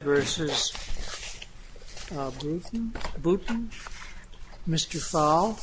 v. Bootham, Mr. Fowle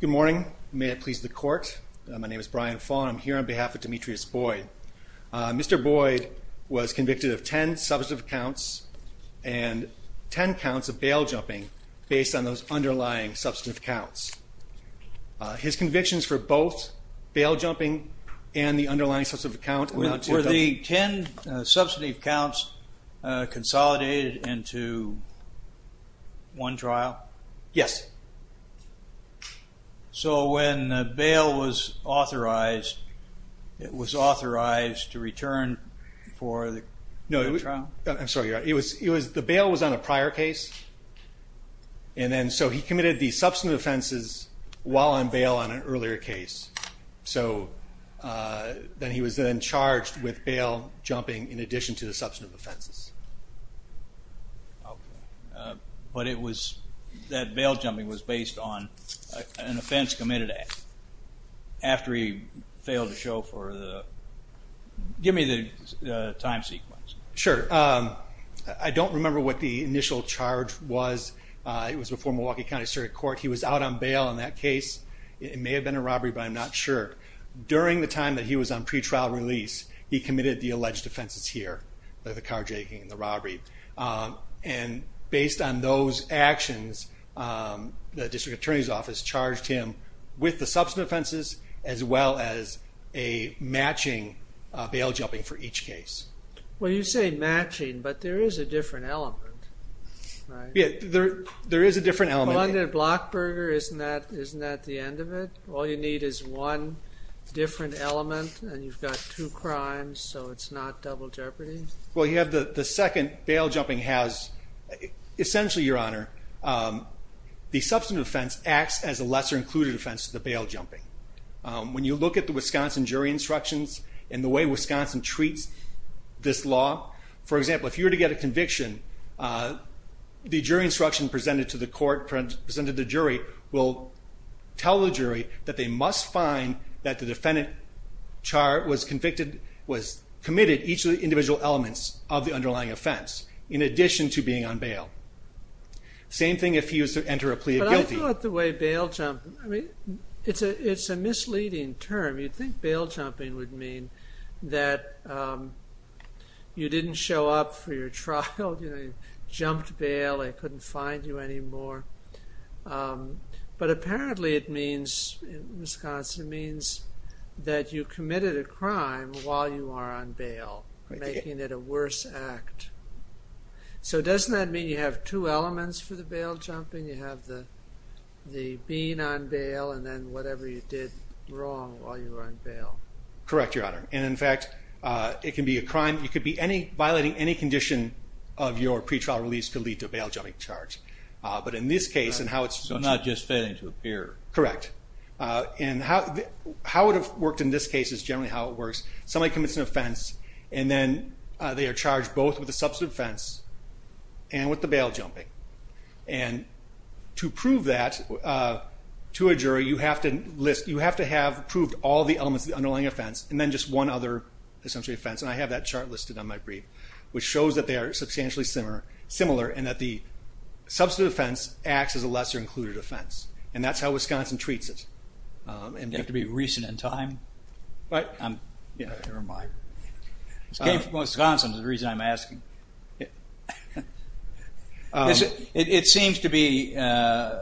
Good morning. May it please the court. My name is Brian Fowle and I'm here on behalf of Demetrius Boyd. Mr. Boyd was convicted of 10 substantive counts and 10 counts of bail jumping based on those underlying substantive counts. His convictions for both bail jumping and the underlying substantive counts amounted to... Were the 10 substantive counts consolidated into one trial? Yes. So when bail was authorized, it was authorized to return for the trial? I'm sorry, you're right. The bail was on a prior case and then so he committed the substantive offenses while on bail on an earlier case. So then he was then charged with bail jumping in addition to the substantive offenses. But it was that bail jumping was based on an offense committed after he failed to show for the... Give me the time sequence. Sure. I don't remember what the initial charge was. It was before Milwaukee County started court. He was out on bail on that case. It may have been a robbery, but I'm not sure. During the time that he was on pretrial release, he committed the alleged offenses here, the carjacking and the robbery. And based on those actions, the district attorney's office charged him with the substantive offenses as well as a matching bail jumping for each case. Well, you say matching, but there is a different element, right? Yeah, there is a different element. Blockburger, isn't that the end of it? All you need is one different element and you've got two crimes, so it's not double jeopardy? Well, you have the second. Bail jumping has... Essentially, Your Honor, the substantive offense acts as a lesser-included offense to the bail jumping. When you look at the Wisconsin jury instructions and the way Wisconsin treats this law, for example, if you were to get a conviction, the jury instruction presented to the court, presented to the jury, will tell the jury that they must find that the defendant Char was convicted, was committed each of the individual elements of the underlying offense, in addition to being on bail. Same thing if he was to enter a plea of guilty. But I thought the way bail jumping... I mean, it's a misleading term. You'd think bail jumping would mean that you didn't show up for your trial, you know, you jumped bail, they couldn't find you anymore. But apparently it means, in Wisconsin, it means that you committed a crime while you are on bail, making it a worse act. So doesn't that mean you have two elements for the bail jumping? You have the being on bail and then whatever you did wrong while you were on bail. Correct, Your Honor. And in fact, it can be a crime. You could be violating any condition of your pretrial release to lead to a bail jumping charge. But in this case, and how it's... So not just failing to appear. Correct. And how it would have worked in this case is generally how it works. Somebody commits an offense, and then they are charged both with a substantive offense and with the bail jumping. And to prove that to a jury, you have to list... You have to have proved all the elements of the underlying offense, and then just one other, essentially, offense. And I have that chart listed on my brief, which shows that they are substantially similar, and that the substantive offense acts as a lesser included offense. And that's how Wisconsin treats it. And you have to be recent in time. But I'm... Never mind. It came from Wisconsin is the reason I'm asking. It seems to be a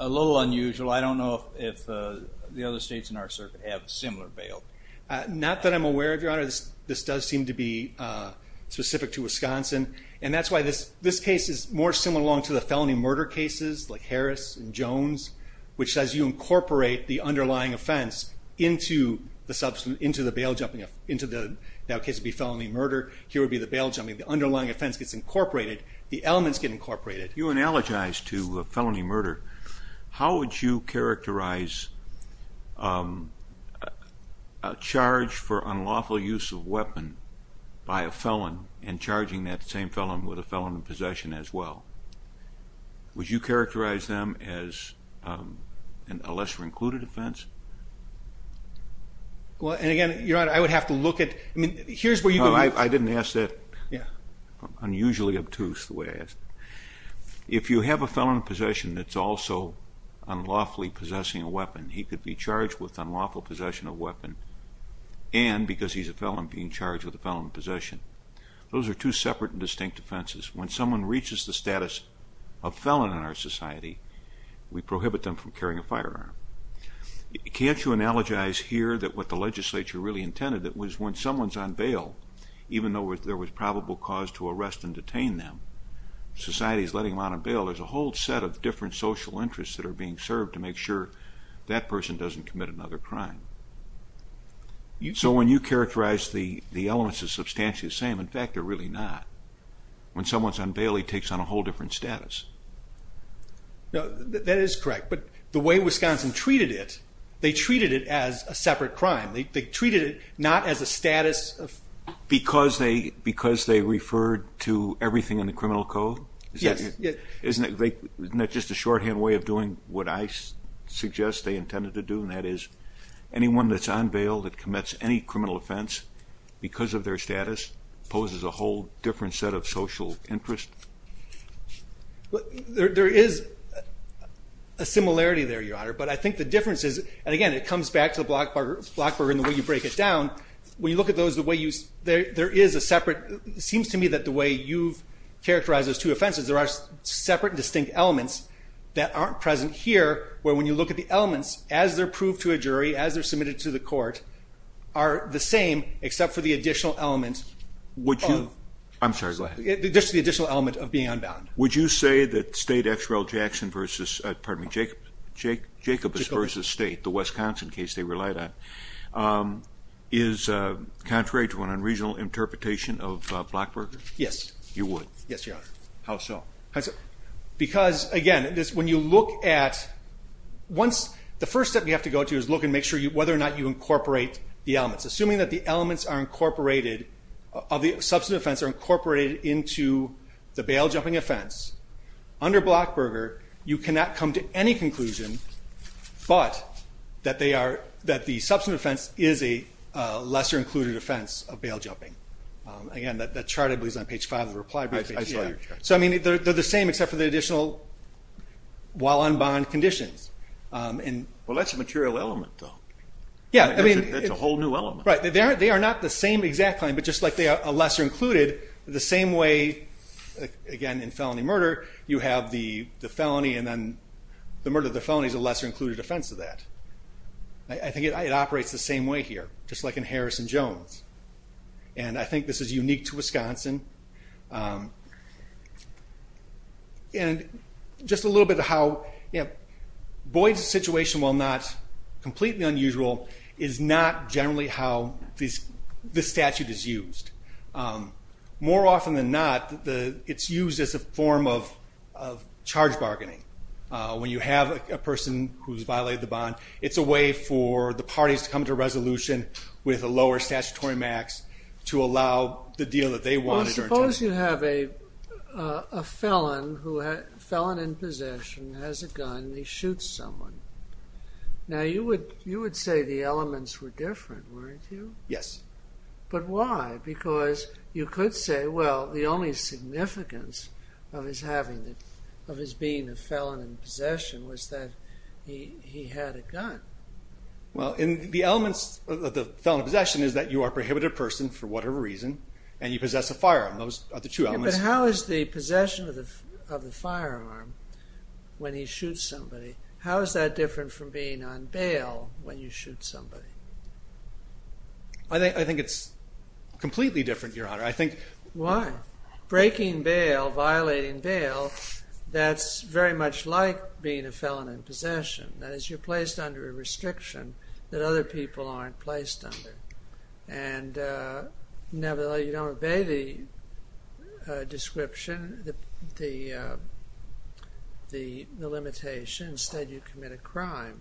little unusual. I don't know if the other states in our circuit have similar bail. Not that I'm aware of, Your Honor. This does seem to be specific to Wisconsin. And that's why this case is more similar to the felony murder cases, like Harris and Jones, which says you incorporate the underlying offense into the bail jumping, into the now case would be felony murder. Here would be the bail jumping. The underlying offense gets incorporated. The elements get incorporated. You analogize to felony murder. How would you characterize a charge for unlawful use of weapon by a felon and charging that same felon with a felon in possession as well? Would you characterize them as a lesser included offense? Well, and again, Your Honor, I would have to look at... I mean, here's where you can... No, I didn't ask that. Unusually obtuse, the way I asked it. If you have a felon in possession that's also unlawfully possessing a weapon, he could be charged with unlawful possession of weapon, and because he's a felon, being charged with a felon in possession. Those are two separate and distinct offenses. When someone reaches the status of felon in our society, we prohibit them from carrying a firearm. Can't you analogize here that what the legislature really intended, that was when someone's on bail, even though there was probable cause to arrest and detain them, society is letting them out on bail. There's a whole set of different social interests that are being served to make sure that person doesn't commit another crime. So when you characterize the elements as substantially the same, in fact, they're really not. When someone's on bail, he takes on a whole different status. No, that is correct, but the way Wisconsin treated it, they treated it as a separate crime. They treated it not as a status of... Because they referred to everything in the criminal code? Yes. Isn't that just a shorthand way of doing what I suggest they intended to do, and that is anyone that's on bail that commits any criminal offense, because of their status, poses a whole different set of social interest? There is a similarity there, Your Honor, but I think the difference is, and again, it comes back to the Blockburger and the way you break it down. When you look at those, there is a separate, it seems to me that the way you've characterized those two offenses, there are separate and distinct elements that aren't present here, where when you look at the elements, as they're proved to a jury, as they're submitted to the court, are the same, except for the additional element. I'm sorry, go ahead. Just the additional element of being unbound. Would you say that Jacobus v. State, the Wisconsin case they relied on, is contrary to an unregional interpretation of Blockburger? Yes. You would? Yes, Your Honor. How so? Because, again, when you look at, the first step you have to go to is look and make sure whether or not you incorporate the elements. Assuming that the elements are incorporated, of the substantive offense are incorporated into the bail jumping offense, under Blockburger, you cannot come to any conclusion but that the substantive offense is a lesser included offense of bail jumping. Again, that chart I believe is on page five of the reply brief. I saw your chart. They're the same except for the additional while unbound conditions. Well, that's a material element, though. Yeah. That's a whole new element. Right. They are not the same exact claim, but just like they are a lesser included, the same way, again, in felony murder, you have the felony and then the murder of the felony is a lesser included offense of that. I think it operates the same way here, just like in Harris and Jones. I think this is unique to Wisconsin. Just a little bit of how, Boyd's situation, while not completely unusual, is not generally how this statute is used. More often than not, it's used as a form of charge bargaining. When you have a person who's violated the bond, it's a way for the parties to come to a resolution with a lower statutory max to allow the deal that they wanted. Well, suppose you have a felon in possession, has a gun, and he shoots someone. Now, you would say the elements were different, weren't you? Yes. But why? Because you could say, well, the only significance of his being a felon in possession was that he had a gun. Well, the elements of the felon in possession is that you are a prohibited person for whatever reason, and you possess a firearm. Those are the two elements. But how is the possession of the firearm, when he shoots somebody, how is that different from being on bail when you shoot somebody? I think it's completely different, Your Honor. Why? Breaking bail, violating bail, that's very much like being a felon in possession. That is, you're placed under a restriction that other people aren't placed under. And you don't obey the description, the limitations. Instead, you commit a crime.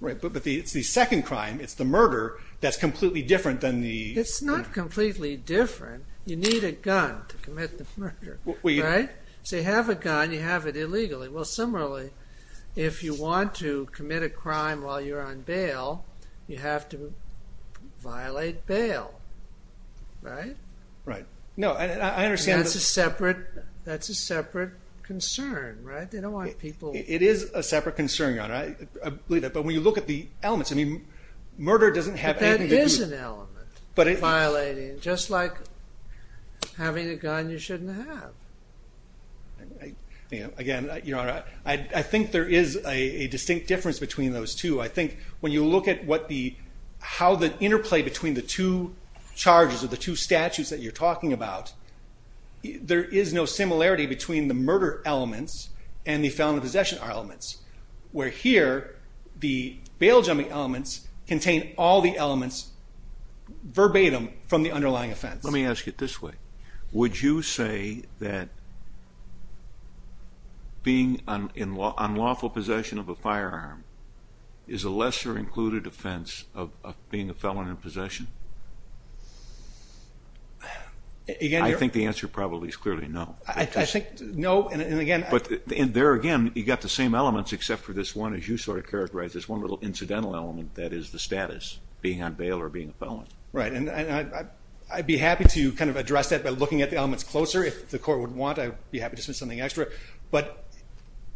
Right. But it's the second crime, it's the murder, that's completely different than the... It's not completely different. You need a gun to commit the murder, right? So you have a gun, you have it illegally. Well, similarly, if you want to commit a crime while you're on bail, you have to violate bail, right? Right. No, I understand... That's a separate concern, right? They don't want people... It is a separate concern, Your Honor. I believe that. But when you look at the elements, I mean, murder doesn't have anything... But that is an element, violating, just like having a gun you shouldn't have. Again, Your Honor, I think there is a distinct difference between those two. I think when you look at how the interplay between the two charges or the two statutes that you're talking about, there is no similarity between the murder elements and the felon in possession elements. Where here, the bail jumping elements contain all the elements verbatim from the underlying offense. Let me ask it this way. Would you say that being in unlawful possession of a firearm is a lesser included offense of being a felon in possession? Again, Your Honor... I think the answer probably is clearly no. I think, no, and again... There again, you've got the same elements except for this one, as you sort of characterized, this one little incidental element that is the status, being on bail or being a felon. Right, and I'd be happy to kind of address that by looking at the elements closer. If the court would want, I'd be happy to submit something extra. But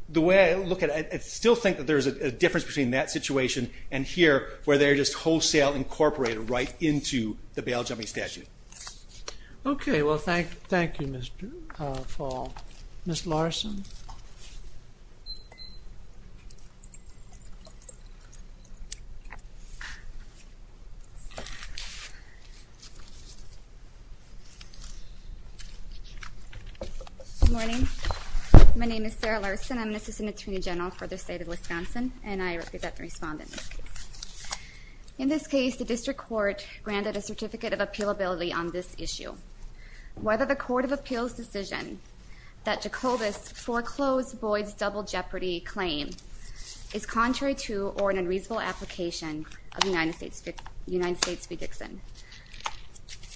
the way I look at it, I still think that there is a difference between that situation and here, where they're just wholesale incorporated right into the bail jumping statute. Okay, well, thank you, Mr. Fall. Ms. Larson? Good morning. My name is Sarah Larson. I'm an assistant attorney general for the state of Wisconsin, and I represent the respondents. In this case, the district court granted a certificate of appealability on this issue. Whether the court of appeals decision that Jacobus foreclosed Boyd's double jeopardy claim is contrary to or an unreasonable application of the United States v. Dixon.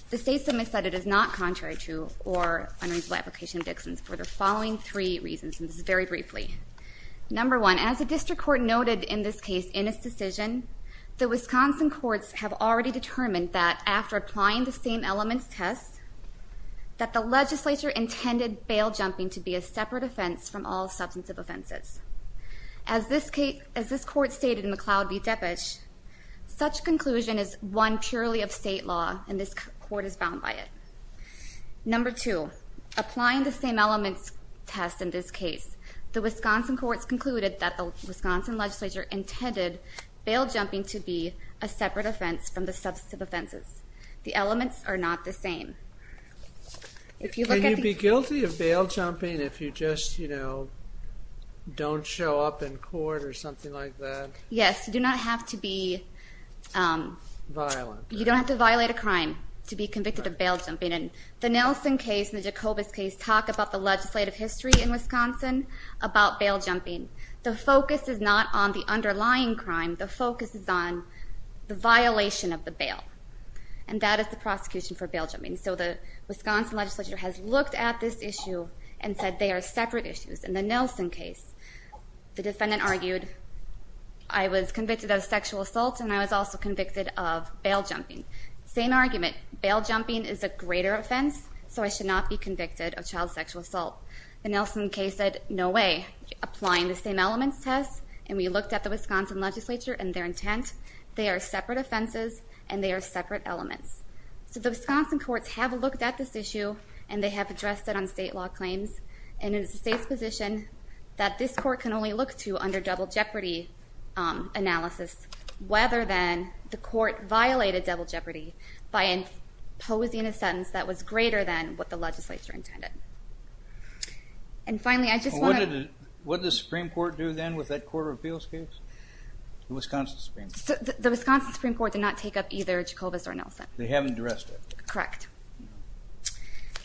The state submitted that it is not contrary to or unreasonable application of Dixon's for the following three reasons, and this is very briefly. Number one, as the district court noted in this case in its decision, the Wisconsin courts have already determined that after applying the same elements test, that the legislature intended bail jumping to be a separate offense from all substantive offenses. As this court stated in McLeod v. Deppich, such conclusion is one purely of state law, and this court is bound by it. Number two, applying the same elements test in this case, the Wisconsin courts concluded that the Wisconsin legislature intended bail jumping to be a separate offense from the substantive offenses. The elements are not the same. Can you be guilty of bail jumping if you just, you know, don't show up in court or something like that? Yes, you do not have to be violent. You don't have to violate a crime to be convicted of bail jumping. And the Nelson case and the Jacobus case talk about the legislative history in Wisconsin about bail jumping. The focus is not on the underlying crime. The focus is on the violation of the bail, and that is the prosecution for bail jumping. So the Wisconsin legislature has looked at this issue and said they are separate issues. In the Nelson case, the defendant argued, I was convicted of sexual assault and I was also convicted of bail jumping. Same argument, bail jumping is a greater offense, so I should not be convicted of child sexual assault. The Nelson case said, no way, applying the same elements test, and we looked at the Wisconsin legislature and their intent, they are separate offenses and they are separate elements. So the Wisconsin courts have looked at this issue and they have addressed it on state law claims, and it is the state's position that this court can only look to under double jeopardy analysis, whether then the court violated double jeopardy by imposing a sentence that was greater than what the legislature intended. And finally, I just want to... What did the Supreme Court do then with that court of appeals case? The Wisconsin Supreme Court. The Wisconsin Supreme Court did not take up either Jacobus or Nelson. They haven't addressed it. Correct.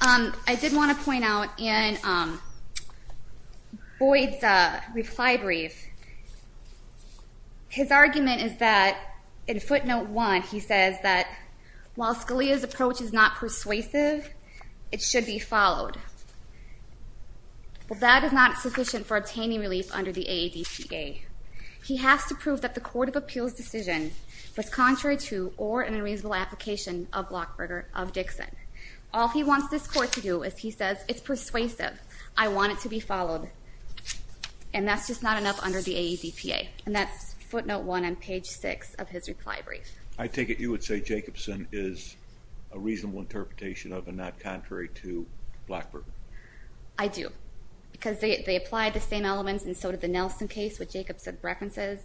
I did want to point out in Boyd's reply brief, his argument is that, in footnote one, he says that, while Scalia's approach is not persuasive, it should be followed. Well, that is not sufficient for obtaining relief under the AADPA. He has to prove that the court of appeals decision was contrary to or an unreasonable application of Lockberger, of Dixon. All he wants this court to do is he says, it's persuasive, I want it to be followed, and that's just not enough under the AADPA. And that's footnote one on page six of his reply brief. I take it you would say Jacobson is a reasonable interpretation of and not contrary to Lockberger. I do, because they applied the same elements, and so did the Nelson case with Jacobson's references.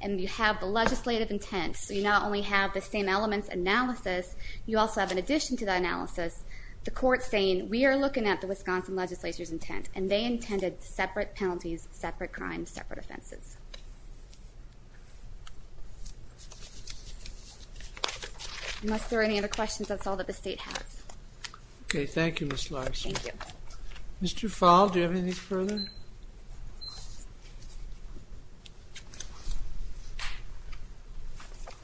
And you have the legislative intent, so you not only have the same elements analysis, you also have, in addition to that analysis, the court saying, we are looking at the Wisconsin legislature's intent, and they intended separate penalties, separate crimes, separate offenses. Unless there are any other questions, that's all that the state has. Okay. Thank you, Ms. Larson. Thank you. Mr. Fall, do you have anything further?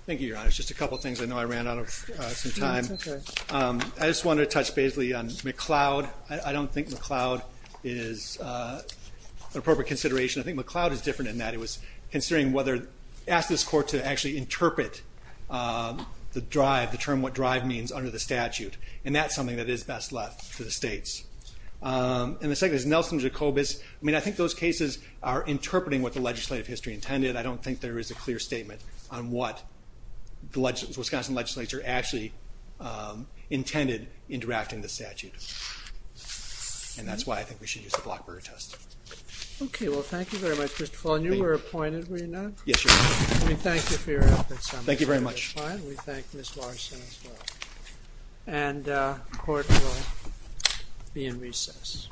Thank you, Your Honor. Just a couple of things I know I ran out of some time. I just wanted to touch basically on McLeod. I don't think McLeod is an appropriate consideration. I think McLeod is different than that. It was considering whether to ask this court to actually interpret the term what drive means under the statute, and that's something that is best left to the states. And the second is Nelson Jacobus. I mean, I think those cases are interpreting what the legislative history intended. I don't think there is a clear statement on what the Wisconsin legislature actually intended in drafting the statute, and that's why I think we should use the Blockburger test. Okay. Well, thank you very much, Mr. Fall. And you were appointed, were you not? Yes, Your Honor. Let me thank you for your efforts. We thank Ms. Larson as well. And the court will be in recess. Thank you.